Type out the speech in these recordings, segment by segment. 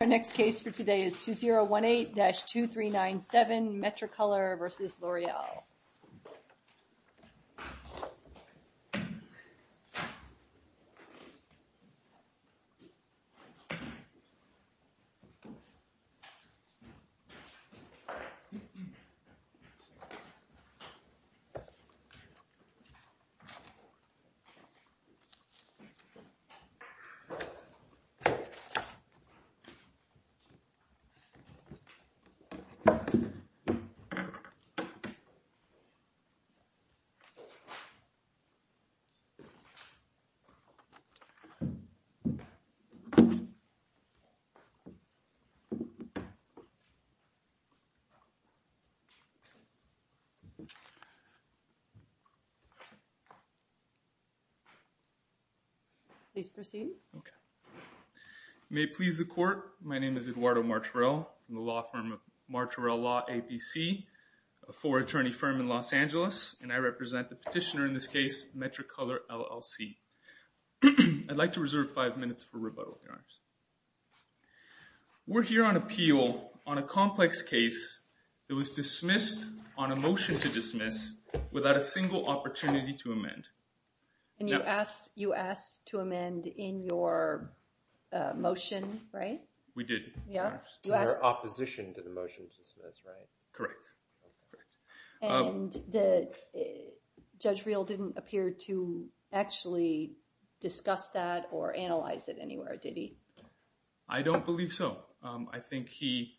Our next case for today is 2018-2397 Metricolor v. L'Oreal. Please proceed. You may please the court. My name is Eduardo Martorell. I'm the law firm of Martorell Law, APC, a four-attorney firm in Los Angeles. And I represent the petitioner in this case, Metricolor LLC. I'd like to reserve five minutes for rebuttal. We're here on appeal on a complex case that was dismissed on a motion to dismiss without a single opportunity to amend. And you asked to amend in your motion, right? We did. In your opposition to the motion to dismiss, right? Correct. And Judge Real didn't appear to actually discuss that or analyze it anywhere, did he? I don't believe so. I think he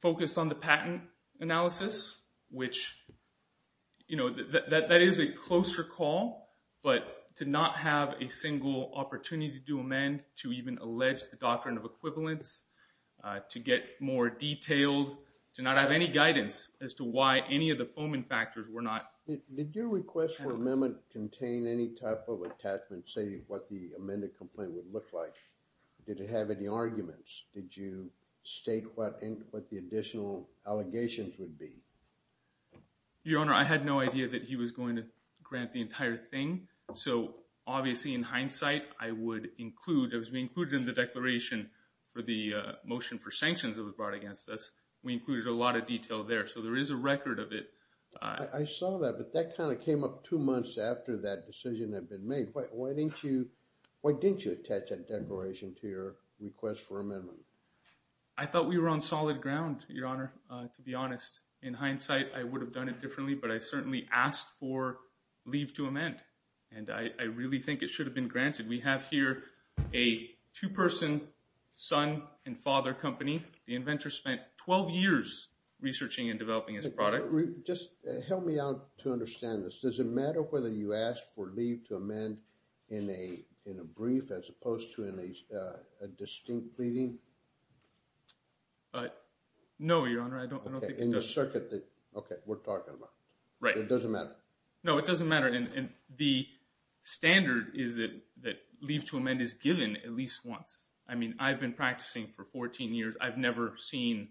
focused on the patent analysis, which, you know, that is a closer call. But to not have a single opportunity to amend, to even allege the doctrine of equivalence, to get more detailed, to not have any guidance as to why any of the foaming factors were not analyzed. Did your request for amendment contain any type of attachment saying what the amended complaint would look like? Did it have any arguments? Did you state what the additional allegations would be? Your Honor, I had no idea that he was going to grant the entire thing. So, obviously, in hindsight, I would include, as we included in the declaration for the motion for sanctions that was brought against us, we included a lot of detail there. So there is a record of it. I saw that, but that kind of came up two months after that decision had been made. Why didn't you attach that declaration to your request for amendment? I thought we were on solid ground, Your Honor, to be honest. In hindsight, I would have done it differently, but I certainly asked for leave to amend. And I really think it should have been granted. We have here a two-person son and father company. The inventor spent 12 years researching and developing his product. Just help me out to understand this. Does it matter whether you ask for leave to amend in a brief as opposed to in a distinct pleading? No, Your Honor, I don't think it does. Okay, in the circuit that we're talking about. Right. It doesn't matter? No, it doesn't matter. And the standard is that leave to amend is given at least once. I mean, I've been practicing for 14 years. I've never seen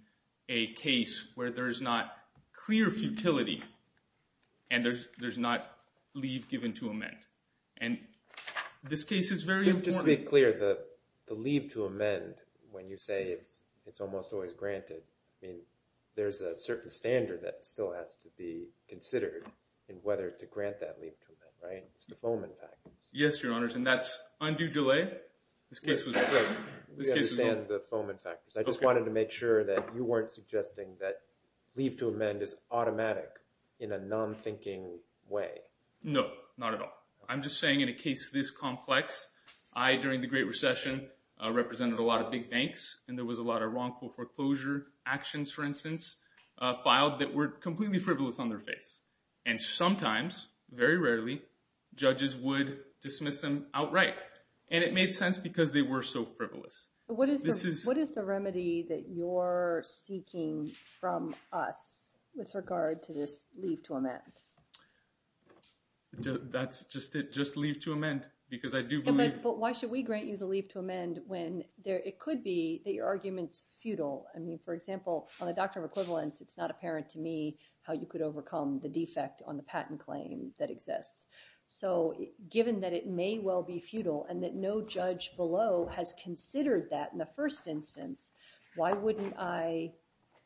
a case where there's not clear futility and there's not leave given to amend. And this case is very important. Just to be clear, the leave to amend, when you say it's almost always granted, I mean, there's a certain standard that still has to be considered in whether to grant that leave to amend, right? It's the Fohman factors. Yes, Your Honors, and that's undue delay. We understand the Fohman factors. I just wanted to make sure that you weren't suggesting that leave to amend is automatic in a non-thinking way. No, not at all. I'm just saying in a case this complex, I, during the Great Recession, represented a lot of big banks, and there was a lot of wrongful foreclosure actions, for instance, filed that were completely frivolous on their face. And sometimes, very rarely, judges would dismiss them outright. And it made sense because they were so frivolous. What is the remedy that you're seeking from us with regard to this leave to amend? That's just leave to amend, because I do believe— But why should we grant you the leave to amend when it could be that your argument's futile? I mean, for example, on the doctrine of equivalence, it's not apparent to me how you could overcome the defect on the patent claim that exists. So given that it may well be futile and that no judge below has considered that in the first instance, why wouldn't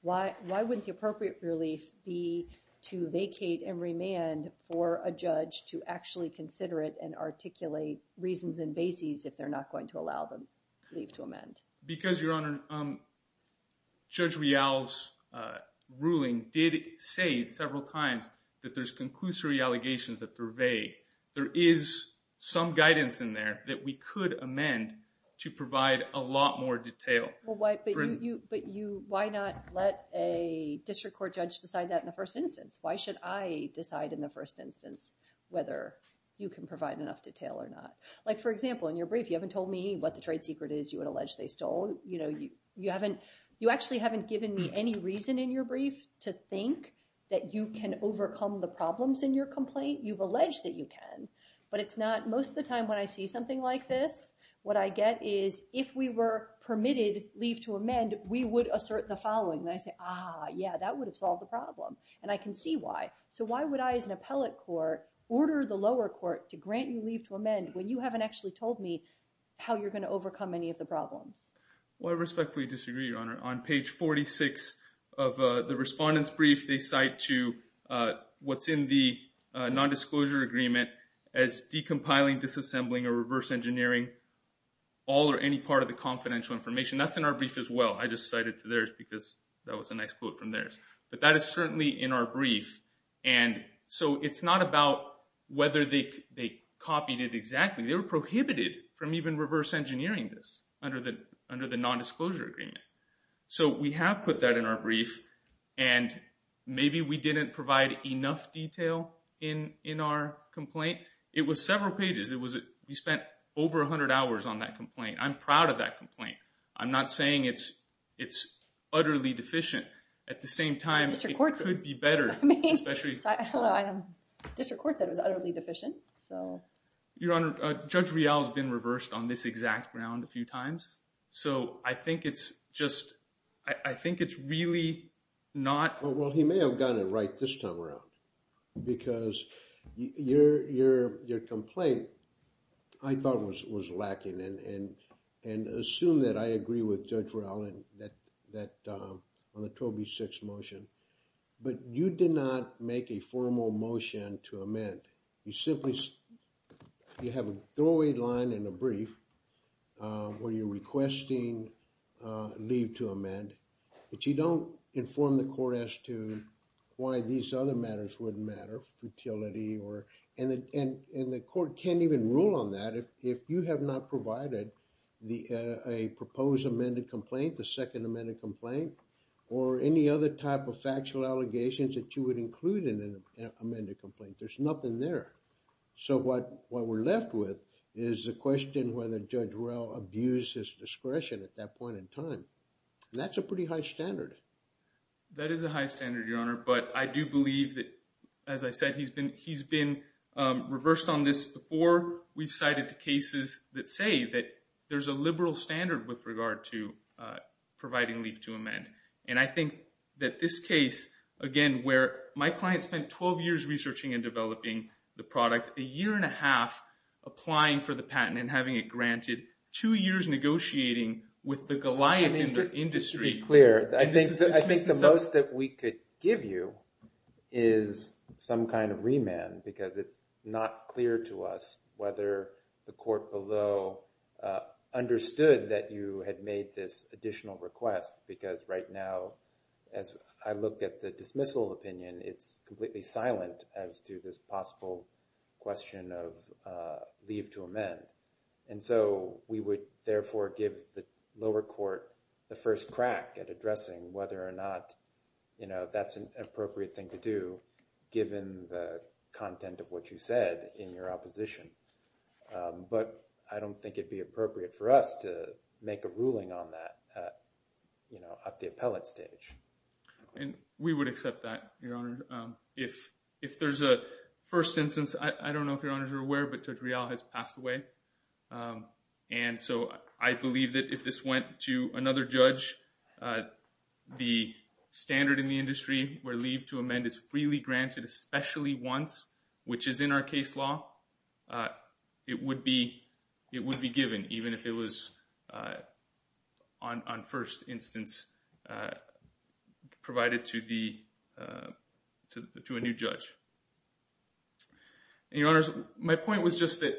the appropriate relief be to vacate and remand for a judge to actually consider it and articulate reasons and bases if they're not going to allow the leave to amend? Because, Your Honor, Judge Real's ruling did say several times that there's conclusory allegations that purvey. There is some guidance in there that we could amend to provide a lot more detail. But why not let a district court judge decide that in the first instance? Why should I decide in the first instance whether you can provide enough detail or not? Like, for example, in your brief, you haven't told me what the trade secret is you would allege they stole. You actually haven't given me any reason in your brief to think that you can overcome the problems in your complaint. You've alleged that you can, but it's not. Most of the time when I see something like this, what I get is if we were permitted leave to amend, we would assert the following. And I say, ah, yeah, that would have solved the problem. And I can see why. So why would I, as an appellate court, order the lower court to grant you leave to amend when you haven't actually told me how you're going to overcome any of the problems? Well, I respectfully disagree, Your Honor. On page 46 of the respondent's brief, they cite to what's in the nondisclosure agreement as decompiling, disassembling, or reverse engineering all or any part of the confidential information. That's in our brief as well. I just cited to theirs because that was a nice quote from theirs. But that is certainly in our brief. And so it's not about whether they copied it exactly. They were prohibited from even reverse engineering this under the nondisclosure agreement. So we have put that in our brief. And maybe we didn't provide enough detail in our complaint. It was several pages. We spent over 100 hours on that complaint. I'm proud of that complaint. I'm not saying it's utterly deficient. At the same time, it could be better. District Court said it was utterly deficient. Your Honor, Judge Rial has been reversed on this exact ground a few times. So I think it's just, I think it's really not. Well, he may have gotten it right this time around. Because your complaint, I thought, was lacking. And assume that I agree with Judge Rial on the 12B6 motion. But you did not make a formal motion to amend. You simply, you have a throwaway line in a brief where you're requesting leave to amend. But you don't inform the court as to why these other matters wouldn't matter. Fertility or, and the court can't even rule on that. If you have not provided a proposed amended complaint, the second amended complaint. Or any other type of factual allegations that you would include in an amended complaint. There's nothing there. So what we're left with is the question whether Judge Rial abused his discretion at that point in time. And that's a pretty high standard. That is a high standard, your Honor. But I do believe that, as I said, he's been reversed on this before. We've cited cases that say that there's a liberal standard with regard to providing leave to amend. And I think that this case, again, where my client spent 12 years researching and developing the product. A year and a half applying for the patent and having it granted. Two years negotiating with the Goliath industry. I think just to be clear, I think the most that we could give you is some kind of remand. Because it's not clear to us whether the court below understood that you had made this additional request. Because right now, as I look at the dismissal opinion, it's completely silent as to this possible question of leave to amend. And so we would, therefore, give the lower court the first crack at addressing whether or not that's an appropriate thing to do, given the content of what you said in your opposition. But I don't think it would be appropriate for us to make a ruling on that at the appellate stage. And we would accept that, your Honor. If there's a first instance, I don't know if your Honors are aware, but Judge Real has passed away. And so I believe that if this went to another judge, the standard in the industry where leave to amend is freely granted, especially once, which is in our case law, it would be given, even if it was on first instance provided to a new judge. And your Honors, my point was just that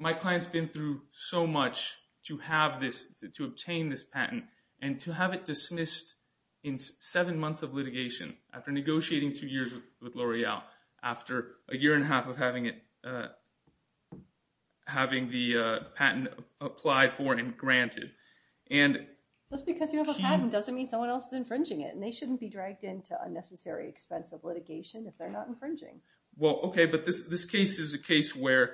my client's been through so much to have this, to obtain this patent, and to have it dismissed in seven months of litigation, after negotiating two years with L'Oreal, after a year and a half of having the patent applied for and granted. Just because you have a patent doesn't mean someone else is infringing it. And they shouldn't be dragged into unnecessary expense of litigation if they're not infringing. Well, okay, but this case is a case where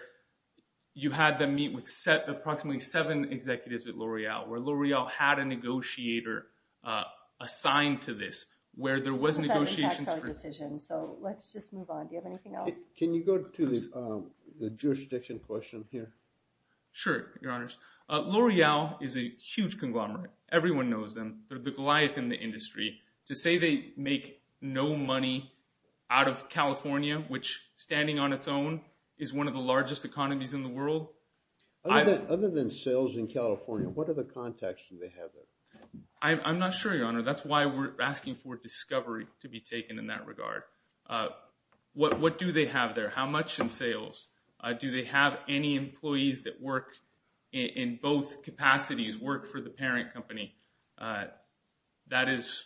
you had them meet with approximately seven executives at L'Oreal, where L'Oreal had a negotiator assigned to this, where there was negotiations. That's our decision, so let's just move on. Do you have anything else? Can you go to the jurisdiction question here? Sure, your Honors. L'Oreal is a huge conglomerate. Everyone knows them. They're the Goliath in the industry. To say they make no money out of California, which, standing on its own, is one of the largest economies in the world. Other than sales in California, what other contacts do they have there? I'm not sure, your Honor. That's why we're asking for discovery to be taken in that regard. What do they have there? How much in sales? Do they have any employees that work in both capacities, work for the parent company? That is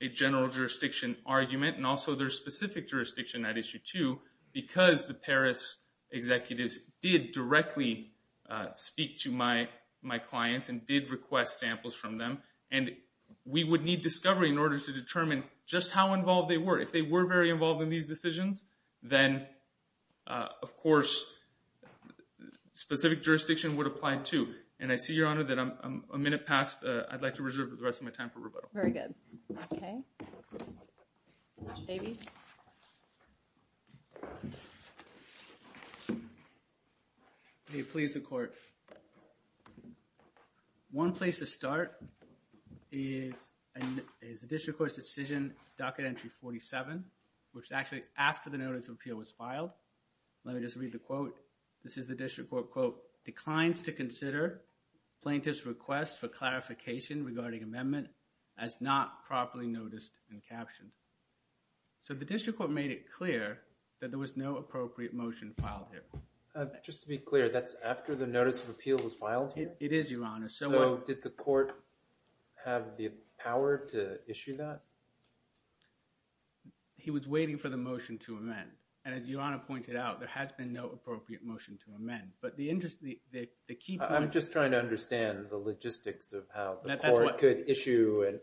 a general jurisdiction argument, and also there's specific jurisdiction at Issue 2, because the Paris executives did directly speak to my clients and did request samples from them. And we would need discovery in order to determine just how involved they were. If they were very involved in these decisions, then, of course, specific jurisdiction would apply, too. And I see, your Honor, that I'm a minute past. I'd like to reserve the rest of my time for rebuttal. Very good. Okay. Davies? May it please the Court. One place to start is the district court's decision, docket entry 47, which is actually after the notice of appeal was filed. Let me just read the quote. This is the district court, quote, It declines to consider plaintiff's request for clarification regarding amendment as not properly noticed and captioned. So the district court made it clear that there was no appropriate motion filed here. Just to be clear, that's after the notice of appeal was filed here? It is, your Honor. So did the court have the power to issue that? He was waiting for the motion to amend. And as your Honor pointed out, there has been no appropriate motion to amend. I'm just trying to understand the logistics of how the court could issue an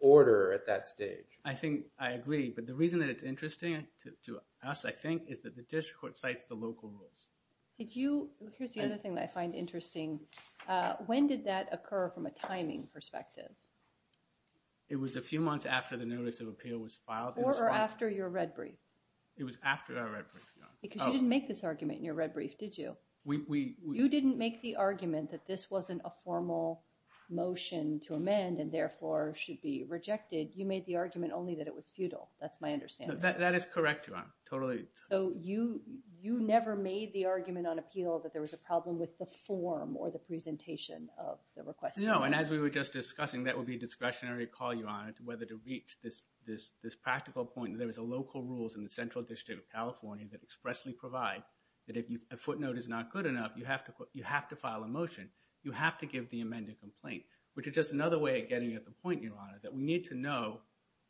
order at that stage. I agree. But the reason that it's interesting to us, I think, is that the district court cites the local rules. Here's the other thing that I find interesting. When did that occur from a timing perspective? It was a few months after the notice of appeal was filed. Or after your red brief. It was after our red brief, your Honor. Because you didn't make this argument in your red brief, did you? You didn't make the argument that this wasn't a formal motion to amend and therefore should be rejected. You made the argument only that it was futile. That's my understanding. That is correct, your Honor. Totally. So you never made the argument on appeal that there was a problem with the form or the presentation of the request? No. And as we were just discussing, that would be a discretionary call, your Honor, to whether to reach this practical point. That there was local rules in the Central District of California that expressly provide that if a footnote is not good enough, you have to file a motion. You have to give the amended complaint. Which is just another way of getting at the point, your Honor, that we need to know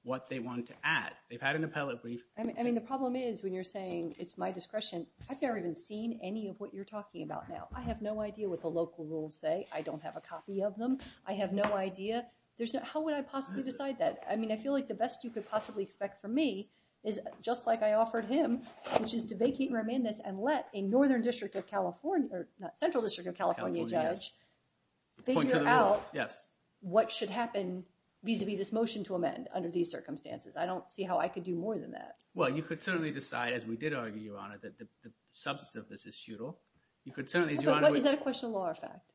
what they want to add. They've had an appellate brief. I mean, the problem is when you're saying it's my discretion, I've never even seen any of what you're talking about now. I have no idea what the local rules say. I don't have a copy of them. I have no idea. There's no – how would I possibly decide that? I mean, I feel like the best you could possibly expect from me is just like I offered him, which is to vacate and remand this and let a Northern District of California – not Central District of California judge figure out what should happen vis-a-vis this motion to amend under these circumstances. I don't see how I could do more than that. Well, you could certainly decide, as we did argue, your Honor, that the substance of this is futile. But is that a question of law or fact?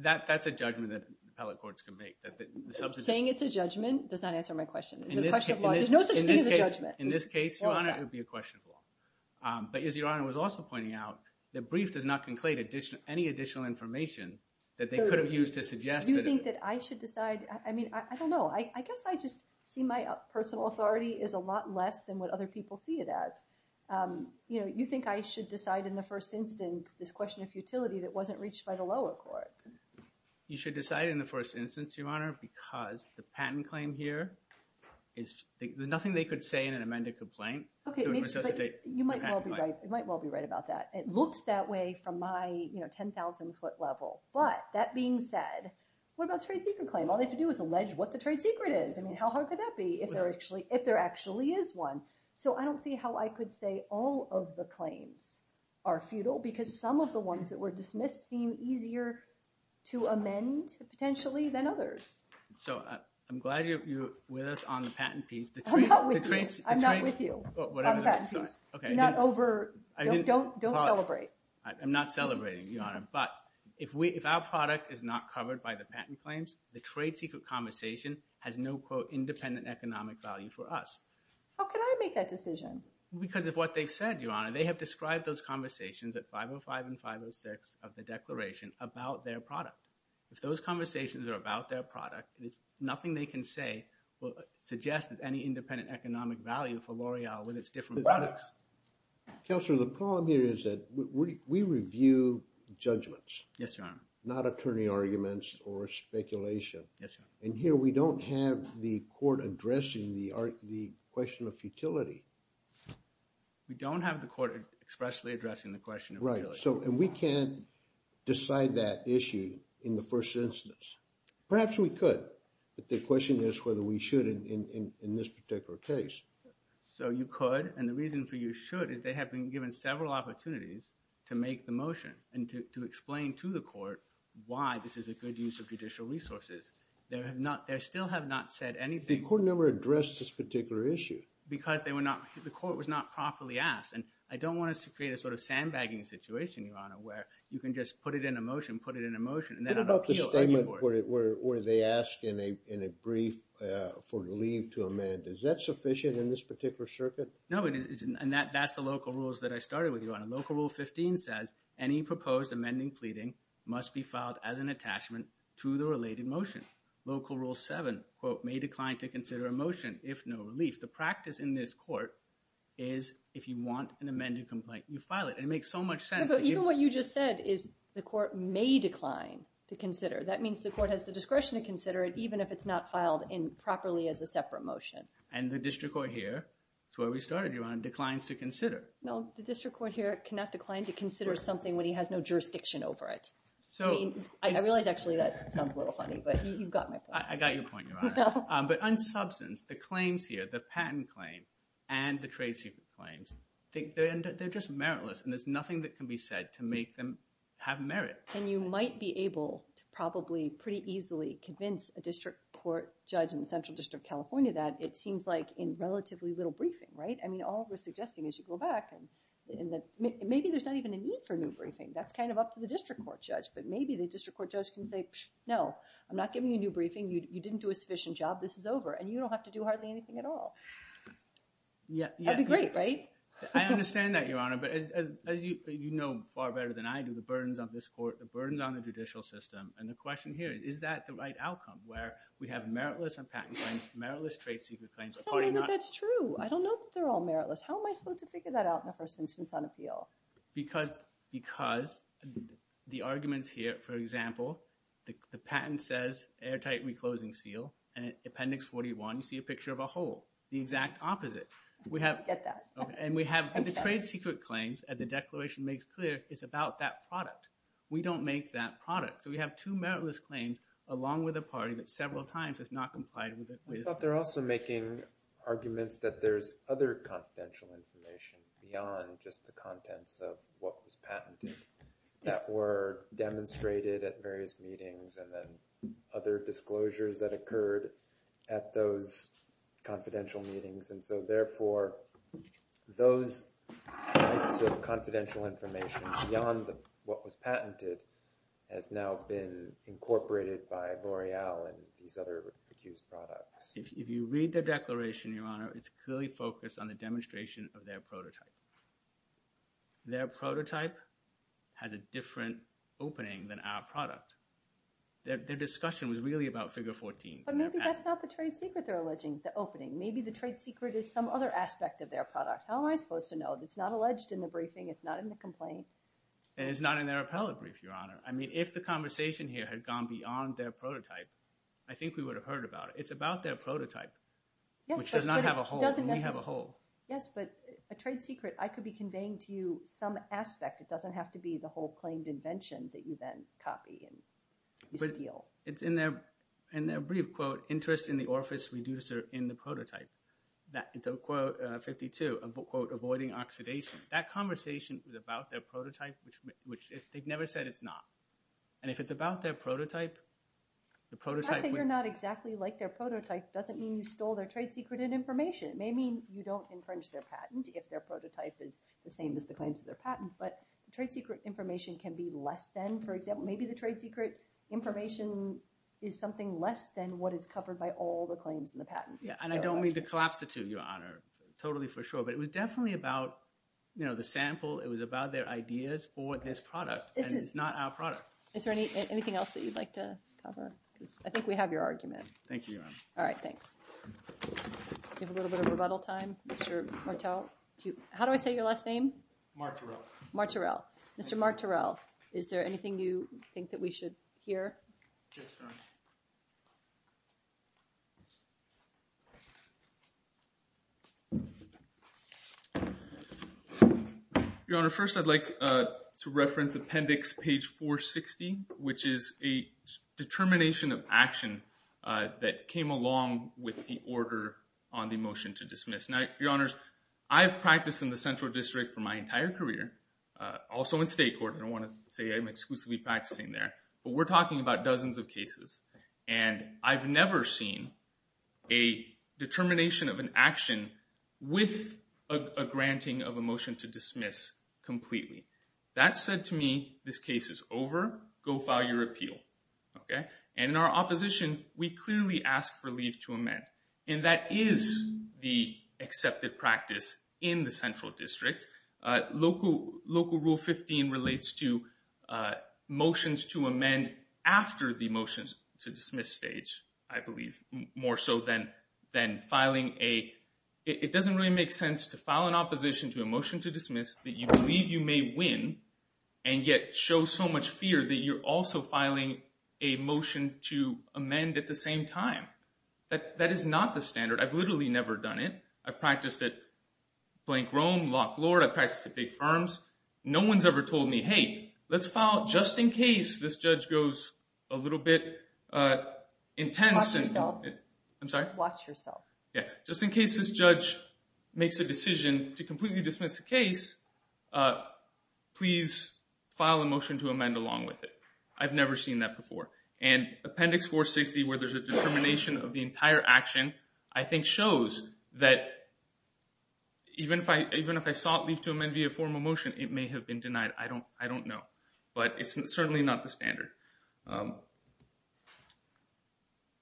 That's a judgment that appellate courts can make. Saying it's a judgment does not answer my question. It's a question of law. There's no such thing as a judgment. In this case, your Honor, it would be a question of law. But as your Honor was also pointing out, the brief does not conclade any additional information that they could have used to suggest that – You think that I should decide – I mean, I don't know. I guess I just see my personal authority is a lot less than what other people see it as. You think I should decide in the first instance this question of futility that wasn't reached by the lower court. You should decide in the first instance, your Honor, because the patent claim here is – There's nothing they could say in an amended complaint to resuscitate the patent claim. You might well be right about that. It looks that way from my 10,000-foot level. But that being said, what about the trade secret claim? All they have to do is allege what the trade secret is. I mean, how hard could that be if there actually is one? So I don't see how I could say all of the claims are futile because some of the ones that were dismissed seem easier to amend potentially than others. So I'm glad you're with us on the patent piece. I'm not with you. I'm not with you on the patent piece. Not over – don't celebrate. I'm not celebrating, your Honor. But if our product is not covered by the patent claims, the trade secret conversation has no, quote, independent economic value for us. How can I make that decision? Because of what they've said, your Honor. They have described those conversations at 505 and 506 of the declaration about their product. If those conversations are about their product, nothing they can say will suggest any independent economic value for L'Oreal with its different products. Counselor, the problem here is that we review judgments. Yes, your Honor. Not attorney arguments or speculation. Yes, your Honor. And here we don't have the court addressing the question of futility. We don't have the court expressly addressing the question of futility. Right. And we can't decide that issue in the first instance. Perhaps we could, but the question is whether we should in this particular case. So you could, and the reason for you should is they have been given several opportunities to make the motion and to explain to the court why this is a good use of judicial resources. They still have not said anything. The court never addressed this particular issue. Because the court was not properly asked. And I don't want to create a sort of sandbagging situation, your Honor, where you can just put it in a motion, put it in a motion, and then appeal. What about the statement where they ask in a brief for leave to amend? Is that sufficient in this particular circuit? No, it isn't. And that's the local rules that I started with, your Honor. Local Rule 15 says any proposed amending pleading must be filed as an attachment to the related motion. Local Rule 7, quote, may decline to consider a motion if no relief. The practice in this court is if you want an amended complaint, you file it. And it makes so much sense. But even what you just said is the court may decline to consider. That means the court has the discretion to consider it even if it's not filed properly as a separate motion. And the district court here, that's where we started, your Honor, declines to consider. No, the district court here cannot decline to consider something when he has no jurisdiction over it. I realize actually that sounds a little funny, but you got my point. I got your point, your Honor. But on substance, the claims here, the patent claim and the trade secret claims, they're just meritless. And there's nothing that can be said to make them have merit. And you might be able to probably pretty easily convince a district court judge in the Central District of California that it seems like in relatively little briefing, right? I mean, all we're suggesting is you go back and maybe there's not even a need for a new briefing. That's kind of up to the district court judge. But maybe the district court judge can say, no, I'm not giving you a new briefing. You didn't do a sufficient job. This is over. And you don't have to do hardly anything at all. That would be great, right? I understand that, your Honor. But as you know far better than I do, the burdens on this court, the burdens on the judicial system, and the question here, is that the right outcome where we have meritless on patent claims, meritless trade secret claims? That's true. I don't know that they're all meritless. How am I supposed to figure that out in the first instance on appeal? Because the arguments here, for example, the patent says airtight reclosing seal. And in Appendix 41, you see a picture of a hole, the exact opposite. Get that. And we have the trade secret claims. And the declaration makes clear it's about that product. We don't make that product. So we have two meritless claims along with a party that several times has not complied with it. But they're also making arguments that there's other confidential information beyond just the contents of what was patented that were demonstrated at various meetings and then other disclosures that occurred at those confidential meetings. And so therefore, those types of confidential information beyond what was patented has now been incorporated by L'Oreal and these other accused products. If you read the declaration, Your Honor, it's clearly focused on the demonstration of their prototype. Their prototype has a different opening than our product. Their discussion was really about Figure 14. But maybe that's not the trade secret they're alleging, the opening. Maybe the trade secret is some other aspect of their product. How am I supposed to know? It's not alleged in the briefing. It's not in the complaint. And it's not in their appellate brief, Your Honor. I mean, if the conversation here had gone beyond their prototype, I think we would have heard about it. It's about their prototype, which does not have a hole, and we have a hole. Yes, but a trade secret, I could be conveying to you some aspect. It doesn't have to be the whole claimed invention that you then copy and steal. It's in their brief, quote, interest in the orifice reducer in the prototype. It's a quote, 52, a quote, avoiding oxidation. That conversation was about their prototype, which they've never said it's not. And if it's about their prototype, the prototype would The fact that you're not exactly like their prototype doesn't mean you stole their trade secret and information. It may mean you don't infringe their patent if their prototype is the same as the claims of their patent. But the trade secret information can be less than, for example, maybe the trade secret information is something less than what is covered by all the claims in the patent. Yeah, and I don't mean to collapse the two, Your Honor, totally for sure. But it was definitely about, you know, the sample. It was about their ideas for this product, and it's not our product. Is there anything else that you'd like to cover? I think we have your argument. Thank you, Your Honor. All right, thanks. We have a little bit of rebuttal time. Mr. Martel, how do I say your last name? Mark Terrell. Mark Terrell. Mr. Mark Terrell, is there anything you think that we should hear? Yes, Your Honor. Your Honor, first I'd like to reference Appendix Page 460, which is a determination of action that came along with the order on the motion to dismiss. Now, Your Honors, I've practiced in the Central District for my entire career, also in state court. I don't want to say I'm exclusively practicing there, but we're talking about dozens of cases. And I've never seen a determination of an action with a granting of a motion to dismiss completely. That said to me, this case is over. Go file your appeal. And in our opposition, we clearly ask for leave to amend. And that is the accepted practice in the Central District. Local Rule 15 relates to motions to amend after the motion to dismiss stage, I believe, more so than filing a – it doesn't really make sense to file an opposition to a motion to dismiss that you believe you may win, and yet show so much fear that you're also filing a motion to amend at the same time. That is not the standard. I've literally never done it. I've practiced at Blank Rome, Lock Lord. I've practiced at big firms. No one's ever told me, hey, let's file just in case this judge goes a little bit intense. Watch yourself. I'm sorry? Watch yourself. Yeah. Just in case this judge makes a decision to completely dismiss the case, please file a motion to amend along with it. I've never seen that before. And Appendix 460, where there's a determination of the entire action, I think shows that even if I sought leave to amend via formal motion, it may have been denied. I don't know. But it's certainly not the standard.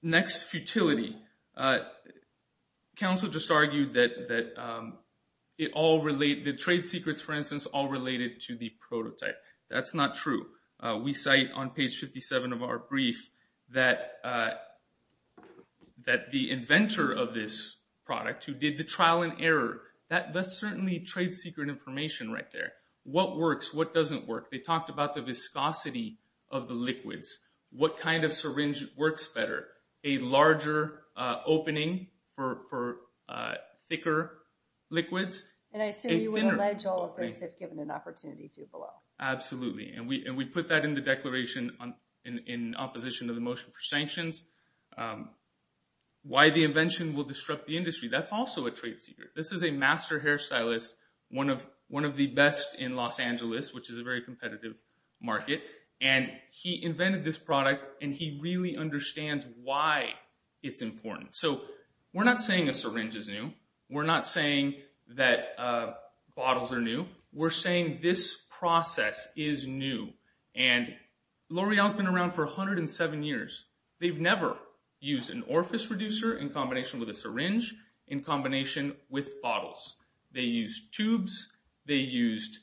Next, futility. Council just argued that the trade secrets, for instance, all related to the prototype. That's not true. We cite on page 57 of our brief that the inventor of this product who did the trial and error, that's certainly trade secret information right there. What works? What doesn't work? They talked about the viscosity of the liquids. What kind of syringe works better? A larger opening for thicker liquids? And I assume you would allege all of this if given an opportunity to below. Absolutely. And we put that in the declaration in opposition of the motion for sanctions. Why the invention will disrupt the industry, that's also a trade secret. This is a master hairstylist, one of the best in Los Angeles, which is a very competitive market. And he invented this product, and he really understands why it's important. So we're not saying a syringe is new. We're not saying that bottles are new. We're saying this process is new. And L'Oreal's been around for 107 years. They've never used an orifice reducer in combination with a syringe in combination with bottles. They used tubes. They used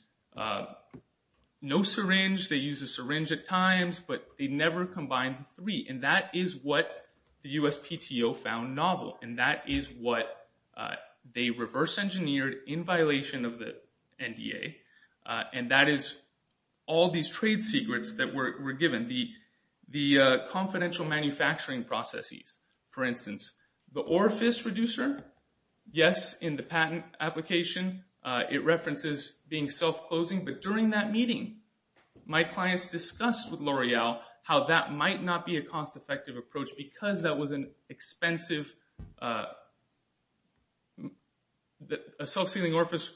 no syringe. They used a syringe at times, but they never combined the three. And that is what the USPTO found novel. And that is what they reverse engineered in violation of the NDA. And that is all these trade secrets that were given, the confidential manufacturing processes. For instance, the orifice reducer, yes, in the patent application, it references being self-closing. But during that meeting, my clients discussed with L'Oreal how that might not be a cost-effective approach because a self-sealing orifice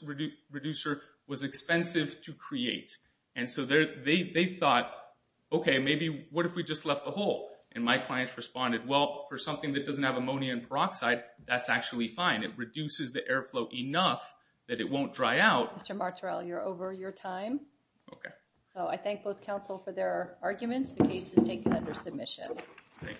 reducer was expensive to create. And so they thought, okay, maybe what if we just left the hole? And my clients responded, well, for something that doesn't have ammonia and peroxide, that's actually fine. It reduces the airflow enough that it won't dry out. Mr. Martorell, you're over your time. Okay. So I thank both counsel for their arguments. The case is taken under submission. Thank you.